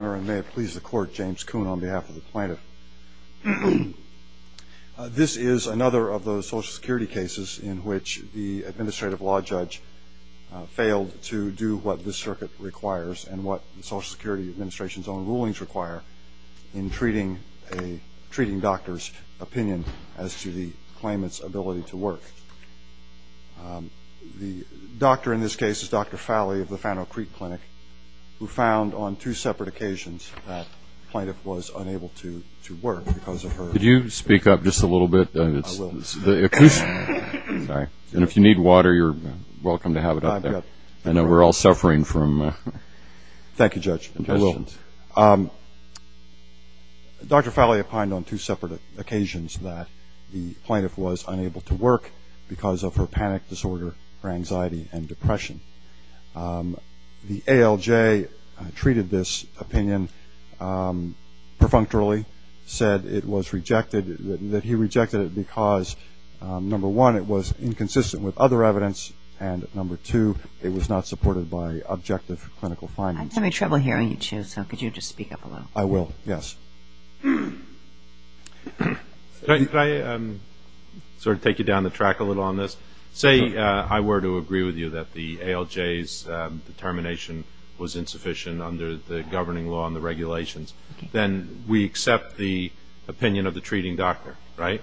and may it please the court, James Kuhn on behalf of the plaintiff. This is another of those social security cases in which the administrative law judge failed to do what this circuit requires and what the social security administration's own rulings require in treating a treating doctor's opinion as to the claimant's ability to work. The doctor in this case is Dr. Fowley of the Fano Creek Clinic, who found on two separate occasions that the plaintiff was unable to work because of her. Could you speak up just a little bit? I will. Sorry. And if you need water, you're welcome to have it up there. I know we're all suffering from questions. Thank you, Judge. Dr. Fowley opined on two separate occasions that the plaintiff was unable to work because of her panic disorder, her anxiety and depression. The ALJ treated this opinion perfunctorily, said it was rejected, that he rejected it because, number one, it was inconsistent with other evidence, and number two, it was not supported by objective clinical findings. I'm having trouble hearing you, too, so could you just speak up a little? I will, yes. Could I sort of take you down the track a little on this? Say I were to agree with you that the ALJ's determination was insufficient under the governing law and the regulations, then we accept the opinion of the treating doctor, right?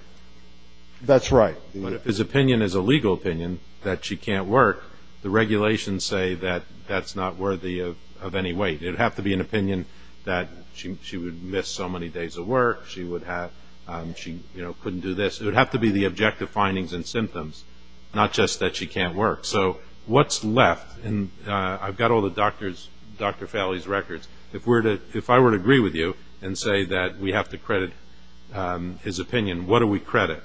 That's right. But if his opinion is a legal opinion that she can't work, the regulations say that that's not worthy of any weight. It would have to be an opinion that she would miss so many days of work, she would have – she, you know, couldn't do this. It would have to be the objective findings and symptoms, not just that she can't work. So what's left? And I've got all the doctor's – Dr. Fahley's records. If we're to – if I were to agree with you and say that we have to credit his opinion, what do we credit?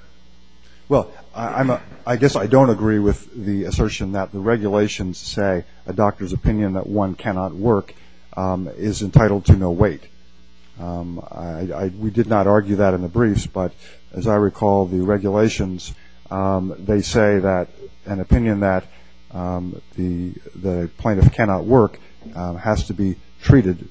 Well, I guess I don't agree with the assertion that the regulations say a doctor's opinion that one cannot work is entitled to no weight. We did not argue that in the briefs, but as I recall the regulations, they say that an opinion that the plaintiff cannot work has to be treated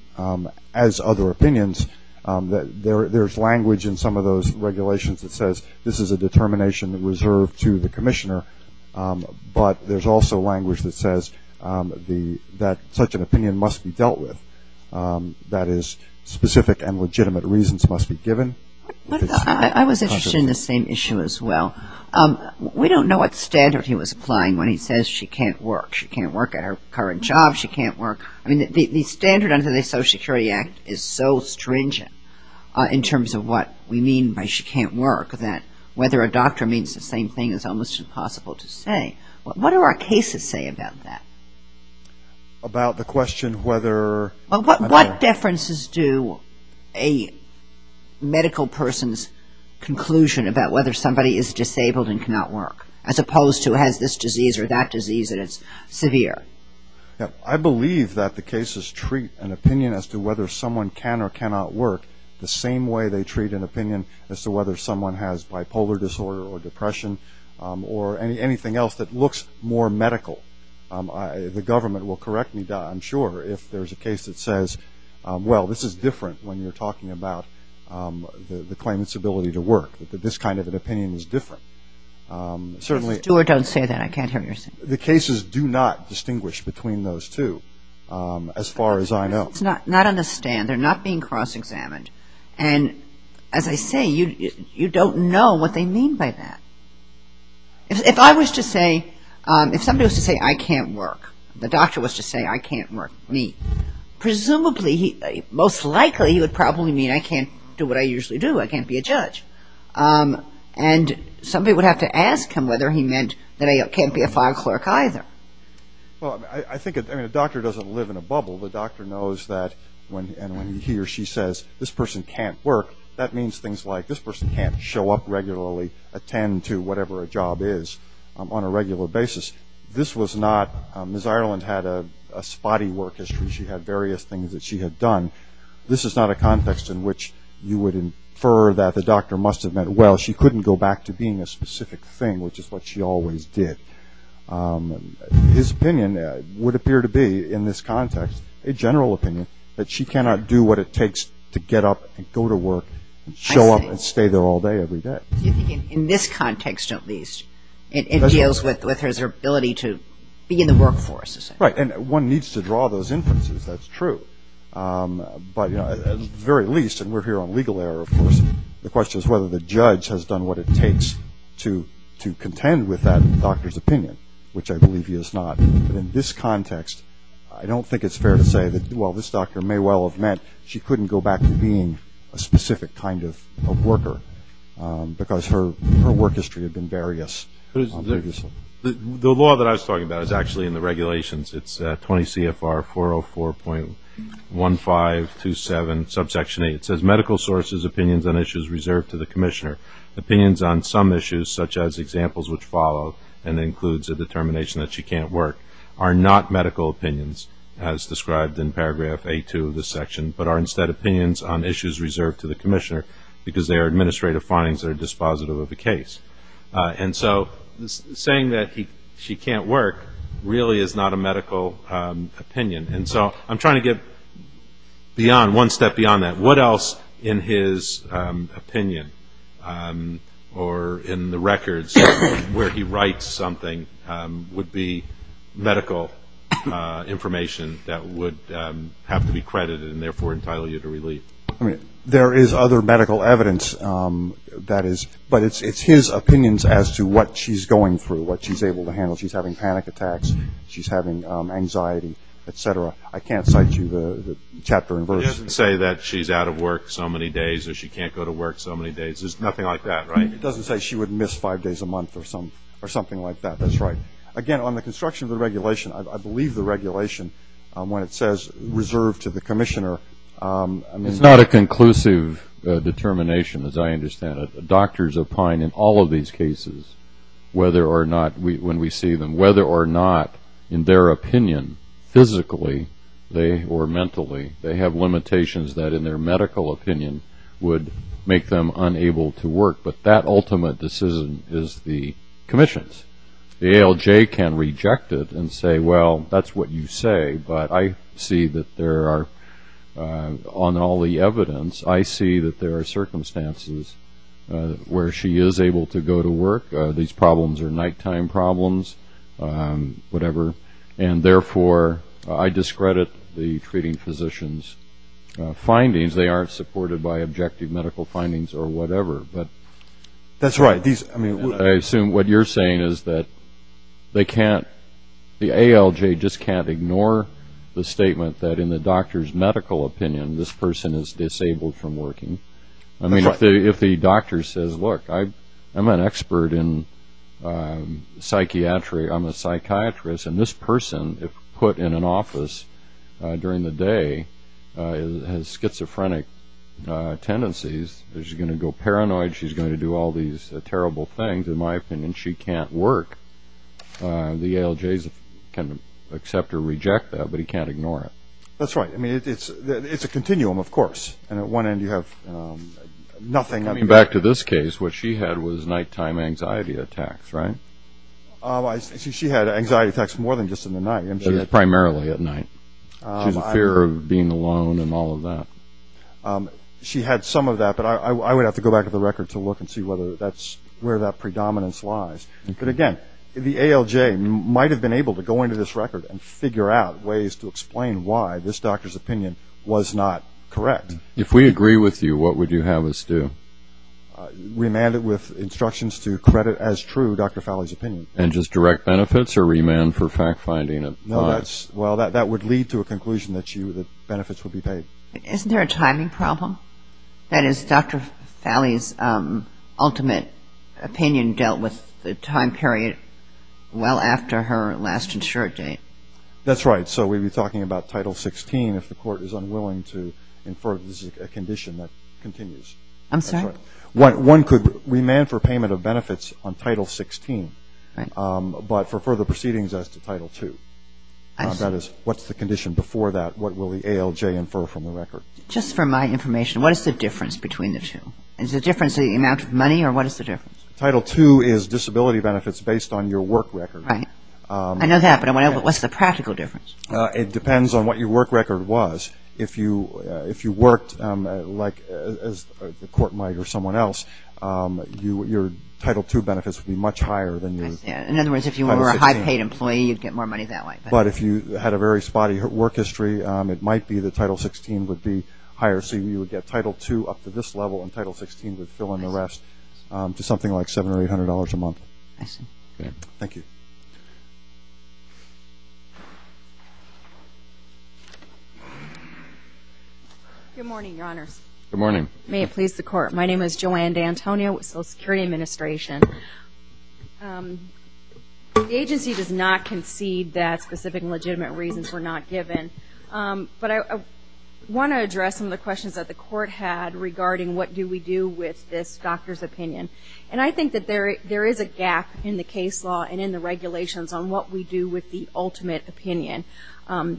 as other opinions. There's language in some of those regulations that says this is a determination reserved to the commissioner, but there's also language that says the – that such an opinion must be dealt with. That is, specific and legitimate reasons must be given. I was interested in the same issue as well. We don't know what standard he was applying when he says she can't work. She can't work at her current job. She can't work – I mean, the standard under the Social Security Act is so stringent in terms of what we mean by she can't work that whether a doctor means the same thing is almost impossible to say. What do our cases say about that? About the question whether – What differences do a medical person's conclusion about whether somebody is disabled and cannot work as opposed to has this disease or that disease and it's severe? I believe that the cases treat an opinion as to whether someone can or cannot work the same way they treat an opinion as to whether someone has bipolar disorder or depression or anything else that looks more medical. The government will correct me, I'm sure, if there's a case that says, well, this is different when you're talking about the claimant's ability to work, that this kind of an opinion is different. Stewart, don't say that. I can't hear you. The cases do not distinguish between those two as far as I know. Not on the standard. They're not being cross-examined. And as I say, you don't know what they mean by that. If I was to say – if somebody was to say I can't work, the doctor was to say I can't work, me. Presumably, most likely, he would probably mean I can't do what I usually do. I can't be a judge. And somebody would have to ask him whether he meant that I can't be a file clerk either. Well, I think – I mean, a doctor doesn't live in a bubble. The doctor knows that when he or she says this person can't work, that means things like this person can't show up regularly, attend to whatever a job is on a regular basis. This was not – Miss Spotty's work history, she had various things that she had done. This is not a context in which you would infer that the doctor must have meant, well, she couldn't go back to being a specific thing, which is what she always did. His opinion would appear to be, in this context, a general opinion, that she cannot do what it takes to get up and go to work and show up and stay there all day every day. Do you think in this context, at least, it deals with her ability to be in the workforce? Right. And one needs to draw those inferences. That's true. But, you know, at the very least – and we're here on legal error, of course – the question is whether the judge has done what it takes to contend with that doctor's opinion, which I believe he has not. But in this context, I don't think it's fair to say that, well, this doctor may well have meant she couldn't go back to being a specific kind of worker, because her work history had been various. The law that I was talking about is actually in the regulations. It's 20 CFR 404.1527, subsection 8. It says, medical sources' opinions on issues reserved to the commissioner. Opinions on some issues, such as examples which follow, and includes a determination that she can't work, are not medical opinions, as described in paragraph A2 of this section, but are instead opinions on issues reserved to the commissioner, because they are administrative findings that are dispositive of the case. And so saying that she can't work really is not a medical opinion. And so I'm trying to get beyond – one step beyond that. What else in his opinion, or in the records where he writes something, would be medical information that would have to be credited and therefore entitled you to relief? I mean, there is other medical evidence that is – but it's his opinions as to what she's going through, what she's able to handle. She's having panic attacks. She's having anxiety, et cetera. I can't cite you the chapter and verse. It doesn't say that she's out of work so many days, or she can't go to work so many days. There's nothing like that, right? It doesn't say she would miss five days a month or something like that. That's right. Again, on the construction of the regulation, I believe the regulation, when it says reserved to the commissioner, I mean – It's not a conclusive determination, as I understand it. Doctors opine in all of these cases, whether or not – when we see them – whether or not, in their opinion, physically they – or mentally, they have limitations that in their medical opinion would make them unable to work. But that ultimate decision is the commission's. The ALJ can reject it and say, well, that's what you say, but I see that there are – on all the evidence, I see that there are circumstances where she is able to go to work. These problems are nighttime problems, whatever, and therefore I discredit the treating physician's findings. They aren't supported by objective medical findings or whatever, but – That's right. These – I mean – The ALJ just can't ignore the statement that in the doctor's medical opinion, this person is disabled from working. I mean, if the doctor says, look, I'm an expert in psychiatry, I'm a psychiatrist, and this person, if put in an office during the day has schizophrenic tendencies, she's going to go paranoid, she's going to do all these terrible things. In my opinion, she can't work. The ALJ can accept or reject that, but he can't ignore it. That's right. I mean, it's a continuum, of course, and at one end you have nothing – Coming back to this case, what she had was nighttime anxiety attacks, right? She had anxiety attacks more than just in the night. Primarily at night. She has a fear of being alone and all of that. She had some of that, but I would have to go back to the record to look and see whether that's where that predominance lies. But again, the ALJ might have been able to go into this record and figure out ways to explain why this doctor's opinion was not correct. If we agree with you, what would you have us do? Remand it with instructions to credit as true Dr. Falley's opinion. And just direct benefits or remand for fact-finding? No, that's – well, that would lead to a conclusion that benefits would be paid. Isn't there a timing problem? That is, Dr. Falley's ultimate opinion dealt with the time period well after her last insured date. That's right. So we'd be talking about Title 16 if the court is unwilling to infer that this is a condition that continues. I'm sorry? One could remand for payment of benefits on Title 16, but for further proceedings as to my information, what is the difference between the two? Is the difference the amount of money or what is the difference? Title 2 is disability benefits based on your work record. Right. I know that, but what's the practical difference? It depends on what your work record was. If you worked like the court might or someone else, your Title 2 benefits would be much higher than your Title 16. In other words, if you were a high-paid employee, you'd get more money that way. But if you had a very spotty work history, it might be that Title 16 would be higher. So you would get Title 2 up to this level and Title 16 would fill in the rest to something like $700 or $800 a month. I see. Thank you. Good morning, Your Honors. Good morning. May it please the Court. My name is Joanne D'Antonio with the Social Security Administration. The agency does not concede that specific legitimate reasons were not given. But I want to address some of the questions that the Court had regarding what do we do with this doctor's opinion. And I think that there is a gap in the case law and in the regulations on what we do with the ultimate opinion.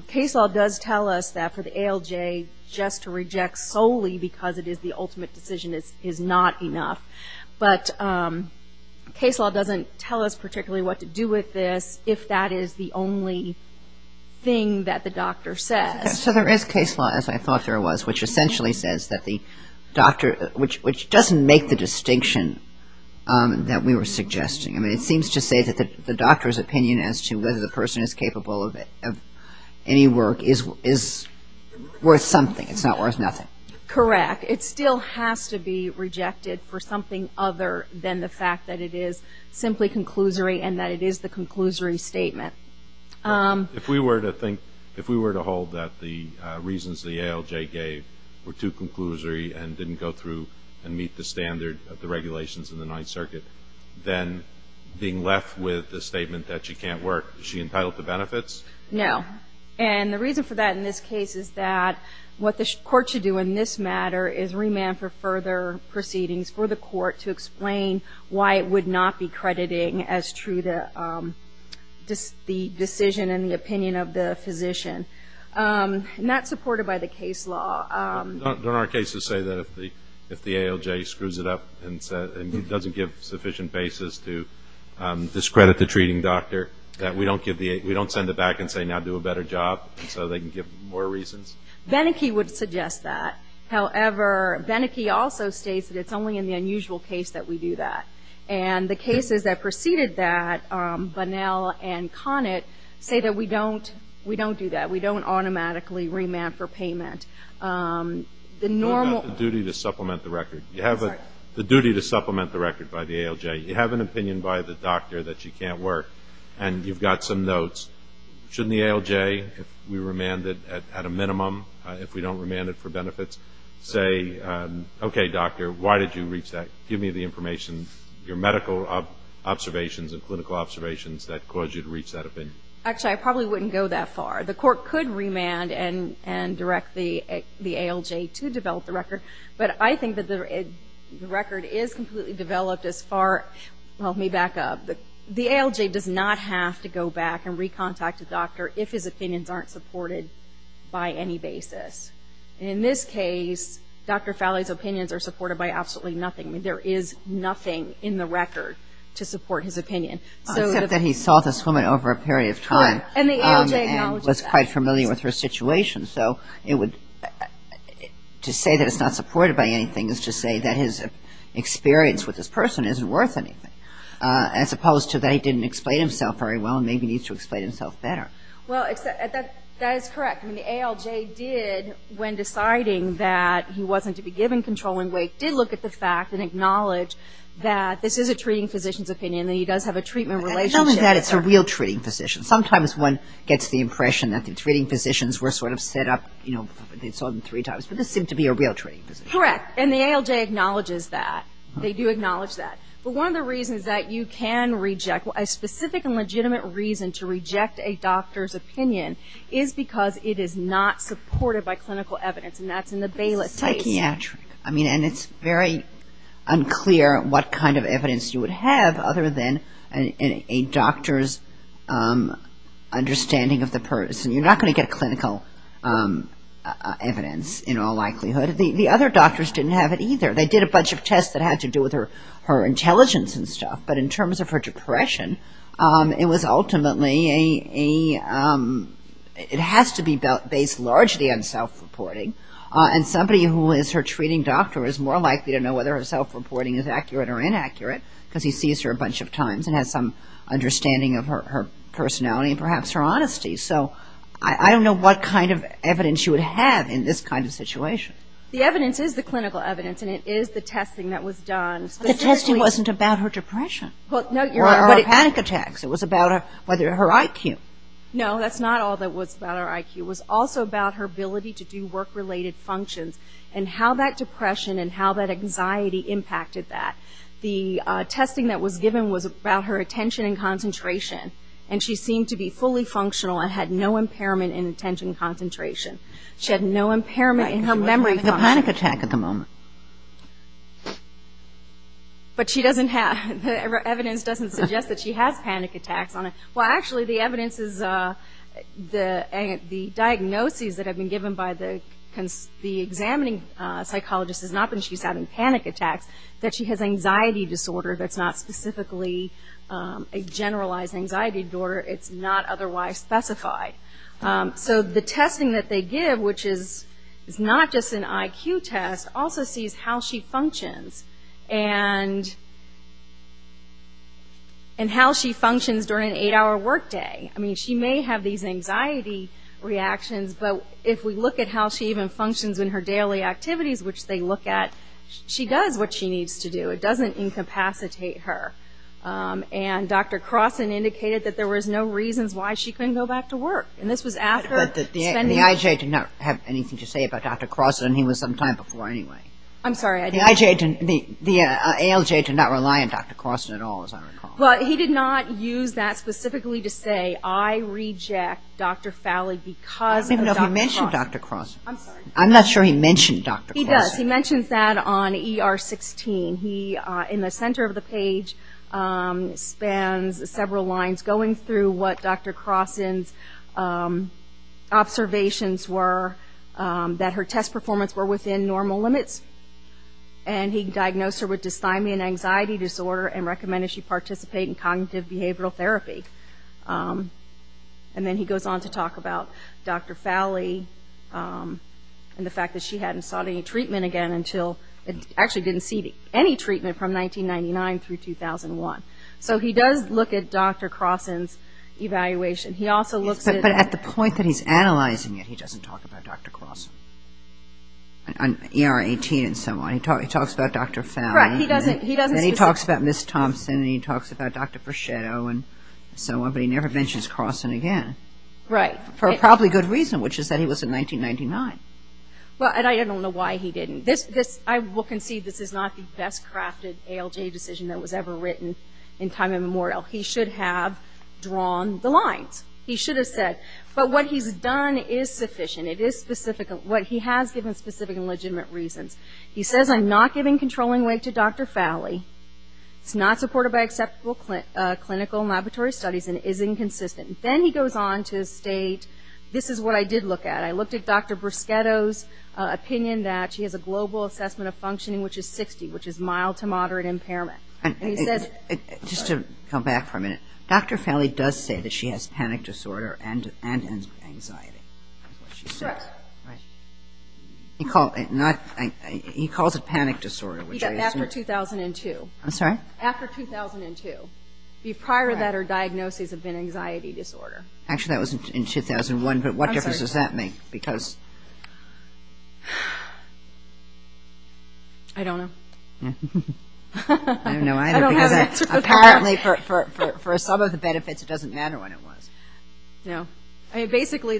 Case law does tell us that for the ALJ, just to reject solely because it is the ultimate decision is not enough. But case law doesn't tell us particularly what to do with this if that is the only thing that the doctor says. So there is case law, as I thought there was, which essentially says that the doctor, which doesn't make the distinction that we were suggesting. I mean, it seems to say that the doctor's opinion as to whether the person is capable of any work is worth something. It's not worth nothing. Correct. It still has to be rejected for something other than the fact that it is simply conclusory and that it is the conclusory statement. If we were to think, if we were to hold that the reasons the ALJ gave were too conclusory and didn't go through and meet the standard of the regulations in the Ninth Circuit, then being left with the statement that she can't work, is she entitled to benefits? No. And the reason for that in this case is that what the court should do in this matter is remand for further proceedings for the court to explain why it would not be crediting as true the decision and the opinion of the physician. Not supported by the case law. Don't our cases say that if the ALJ screws it up and doesn't give sufficient basis to discredit the treating doctor, that we don't send it back and say, now do a better job so they can give more reasons? Beneke would suggest that. However, Beneke also states that it's only in the unusual case that we do that. And the cases that preceded that, Bunnell and Conant, say that we don't do that. We don't automatically remand for payment. The normal- What about the duty to supplement the record? I'm sorry. You have the duty to supplement the record by the ALJ. You have an opinion by the doctor that you can't work. And you've got some notes. Shouldn't the ALJ, if we remand it at a minimum, if we don't remand it for benefits, say, okay, doctor, why did you reach that? Give me the information, your medical observations and clinical observations that caused you to reach that opinion. Actually, I probably wouldn't go that far. The court could remand and direct the ALJ to develop the record. But I think that the record is completely developed as far, well, let me back up. The ALJ does not have to go back and recontact a doctor if his opinions aren't supported by any basis. In this case, Dr. Fowley's opinions are supported by absolutely nothing. There is nothing in the record to support his opinion. Except that he saw this woman over a period of time. And the ALJ acknowledges that. And was quite familiar with her situation. So it would, to say that it's not supported by anything is to say that his experience with this person isn't worth anything. As opposed to that he didn't explain himself very well and maybe needs to explain himself better. Well, that is correct. I mean, the ALJ did, when deciding that he wasn't to be given controlling weight, did look at the fact and acknowledge that this is a treating physician's opinion and he does have a treatment relationship. And not only that, it's a real treating physician. Sometimes one gets the impression that the treating physicians were sort of set up, you know, they saw them three times. But this seemed to be a real treating physician. Correct. And the ALJ acknowledges that. They do acknowledge that. But one of the reasons that you can reject, a specific and legitimate reason to reject a doctor's opinion is because it is not supported by clinical evidence. And that's in the Bayless case. Psychiatric. I mean, and it's very unclear what kind of evidence you would have other than a doctor's understanding of the person. You're not going to get clinical evidence in all likelihood. The other doctors didn't have it either. They did a bunch of tests that had to do with her intelligence and stuff. But in terms of her depression, it was ultimately a, it has to be based largely on self-reporting. And somebody who is her treating doctor is more likely to know whether her self-reporting is accurate or inaccurate because he sees her a bunch of times and has some understanding of her personality and perhaps her honesty. So I don't know what kind of evidence you would have in this kind of situation. The evidence is the clinical evidence and it is the testing that was done. The testing wasn't about her depression or her panic attacks. It was about her IQ. No, that's not all that was about her IQ. It was also about her ability to do work-related functions and how that depression and how that anxiety impacted that. The testing that was given was about her attention and concentration. And she seemed to be fully functional and had no impairment in attention and concentration. She had no impairment in her memory function. Right. She wasn't having a panic attack at the moment. But she doesn't have, the evidence doesn't suggest that she has panic attacks on her. Well, actually, the evidence is, the diagnoses that have been given by the examining psychologist is not that she's having panic attacks, that she has anxiety disorder that's not specifically a generalized anxiety disorder. It's not otherwise specified. So the testing that they give, which is not just an IQ test, also sees how she functions and how she functions during an eight-hour work day. I mean, she may have these anxiety reactions, but if we look at how she even functions in her daily activities, which they look at, she does what she needs to do. It doesn't incapacitate her. And Dr. Crossan indicated that there was no reasons why she couldn't go back to work. And this was after spending... But the IJ did not have anything to say about Dr. Crossan, and he was some time before anyway. I'm sorry, I didn't... The IJ, the ALJ did not rely on Dr. Crossan at all, as I recall. Well, he did not use that specifically to say, I reject Dr. Fowley because of Dr. Crossan. I don't even know if he mentioned Dr. Crossan. I'm sorry. I'm not sure he mentioned Dr. Crossan. He does. He mentions that on ER-16. He, in the center of the page, spans several lines going through what Dr. Crossan's observations were that her test performance were within normal limits. And he diagnosed her with dysthymia and anxiety disorder and recommended she participate in cognitive behavioral therapy. And then he goes on to talk about Dr. Fowley and the fact that she hadn't sought any treatment again until... Actually, didn't see any treatment from 1999 through 2001. So he does look at Dr. Crossan's evaluation. He also looks at... But at the point that he's analyzing it, he doesn't talk about Dr. Crossan. On ER-18 and so on, he talks about Dr. Fowley. Correct. He doesn't... And then he talks about Ms. Thompson and he talks about Dr. Freschetto and so on, but he never mentions Crossan again. Right. For a probably good reason, which is that he was in 1999. Well, and I don't know why he didn't. I will concede this is not the best-crafted ALJ decision that was ever written in time immemorial. He should have drawn the lines. He should have said. But what he's done is sufficient. It is specific. What he has given specific and legitimate reasons. He says, I'm not giving controlling weight to Dr. Fowley. It's not supported by acceptable clinical and laboratory studies and is inconsistent. Then he goes on to state, this is what I did look at. I looked at Dr. Freschetto's opinion that she has a global assessment of functioning, which is 60, which is mild to moderate impairment. And he says... Just to come back for a minute, Dr. Fowley does say that she has panic disorder and anxiety. Correct. Right. He calls it panic disorder. After 2002. I'm sorry? After 2002. Prior to that, her diagnosis had been anxiety disorder. Actually, that was in 2001. I'm sorry. But what difference does that make? Because... I don't know. I don't know either. I don't have an answer for that. Because apparently, for some of the benefits, it doesn't matter what it was. No. Basically,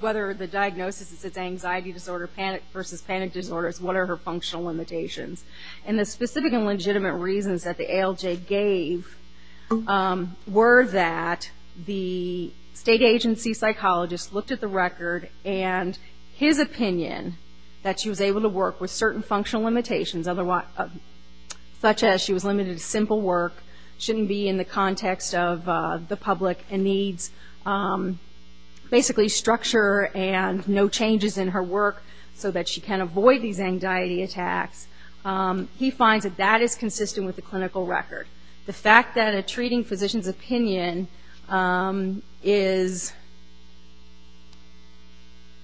whether the diagnosis is it's anxiety disorder versus panic disorders, what are her functional limitations? And the specific and legitimate reasons that the ALJ gave were that the state agency psychologist looked at the record and his opinion that she was able to work with certain functional limitations, such as she was limited to simple work, shouldn't be in the context of the public and needs basically structure and no changes in her work so that she can avoid these anxiety attacks. He finds that that is consistent with the clinical record. The fact that a treating physician's opinion is...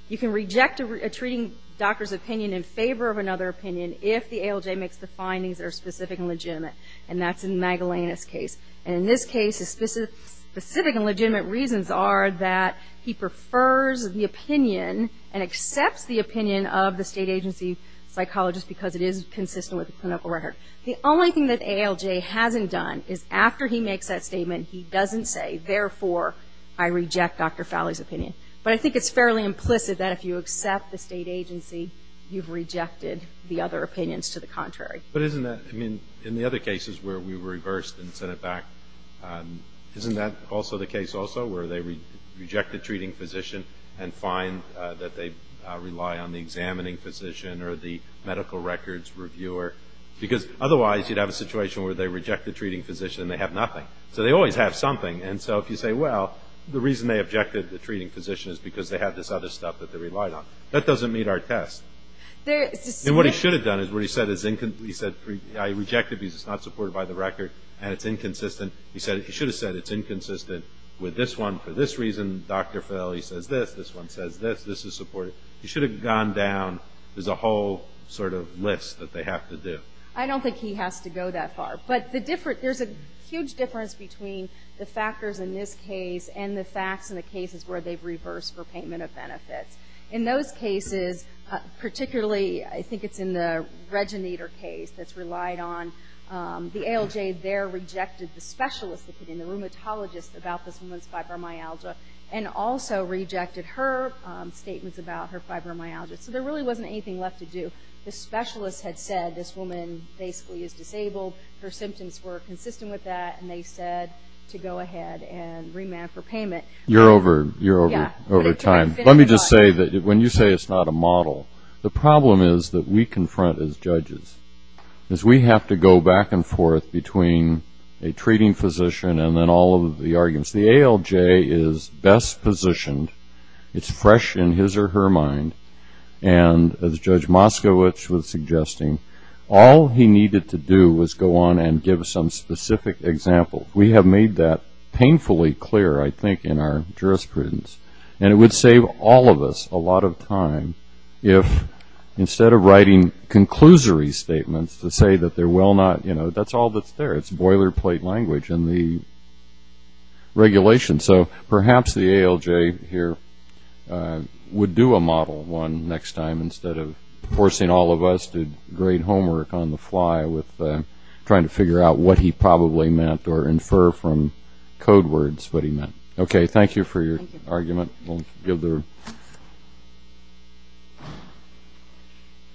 You can reject a treating doctor's opinion in favor of another opinion if the ALJ makes the findings that are specific and legitimate. And that's in Magdalena's case. And in this case, the specific and legitimate reasons are that he prefers the opinion and accepts the opinion of the state agency psychologist because it is consistent with the clinical record. The only thing that ALJ hasn't done is after he makes that statement, he doesn't say, therefore, I reject Dr. Fowley's opinion. But I think it's fairly implicit that if you accept the state agency, you've rejected the other opinions to the contrary. But isn't that... I mean, in the other cases where we reversed and sent it back, isn't that also the case also where they reject the treating physician and find that they rely on the examining physician or the medical records reviewer? Because otherwise, you'd have a situation where they reject the treating physician and they have nothing. So they always have something. And so if you say, well, the reason they objected the treating physician is because they had this other stuff that they relied on, that doesn't meet our test. And what he should have done is where he said, I rejected because it's not supported by the record and it's inconsistent. He should have said it's inconsistent with this one for this reason. Dr. Fowley says this. This one says this. This is supported. He should have gone down. There's a whole sort of list that they have to do. I don't think he has to go that far. But there's a huge difference between the factors in this case and the facts in the cases where they've reversed for payment of benefits. In those cases, particularly I think it's in the Reginator case that's relied on, the ALJ there rejected the specialist, the rheumatologist, about this woman's fibromyalgia and also rejected her statements about her fibromyalgia. So there really wasn't anything left to do. The specialist had said this woman basically is disabled. Her symptoms were consistent with that. And they said to go ahead and remand for payment. You're over time. Let me just say that when you say it's not a model, the problem is that we confront as judges, is we have to go back and forth between a treating physician and then all of the arguments. The ALJ is best positioned. It's fresh in his or her mind. And as Judge Moskowitz was suggesting, all he needed to do was go on and give some specific example. We have made that painfully clear, I think, in our jurisprudence. And it would save all of us a lot of time if instead of writing conclusory statements to say that they're well not, you know, that's all that's there. It's boilerplate language in the regulation. So perhaps the ALJ here would do a model one next time instead of forcing all of us to grade homework on the fly with trying to figure out what he probably meant or infer from code words what he meant. Okay, thank you for your argument.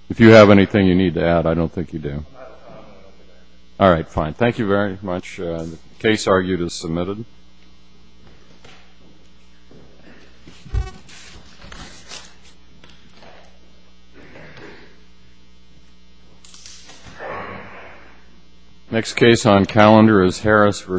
If you have anything you need to add, I don't think you do. All right, fine. Thank you very much. The case argued is submitted. Next case on calendar is Harris v. Morrow.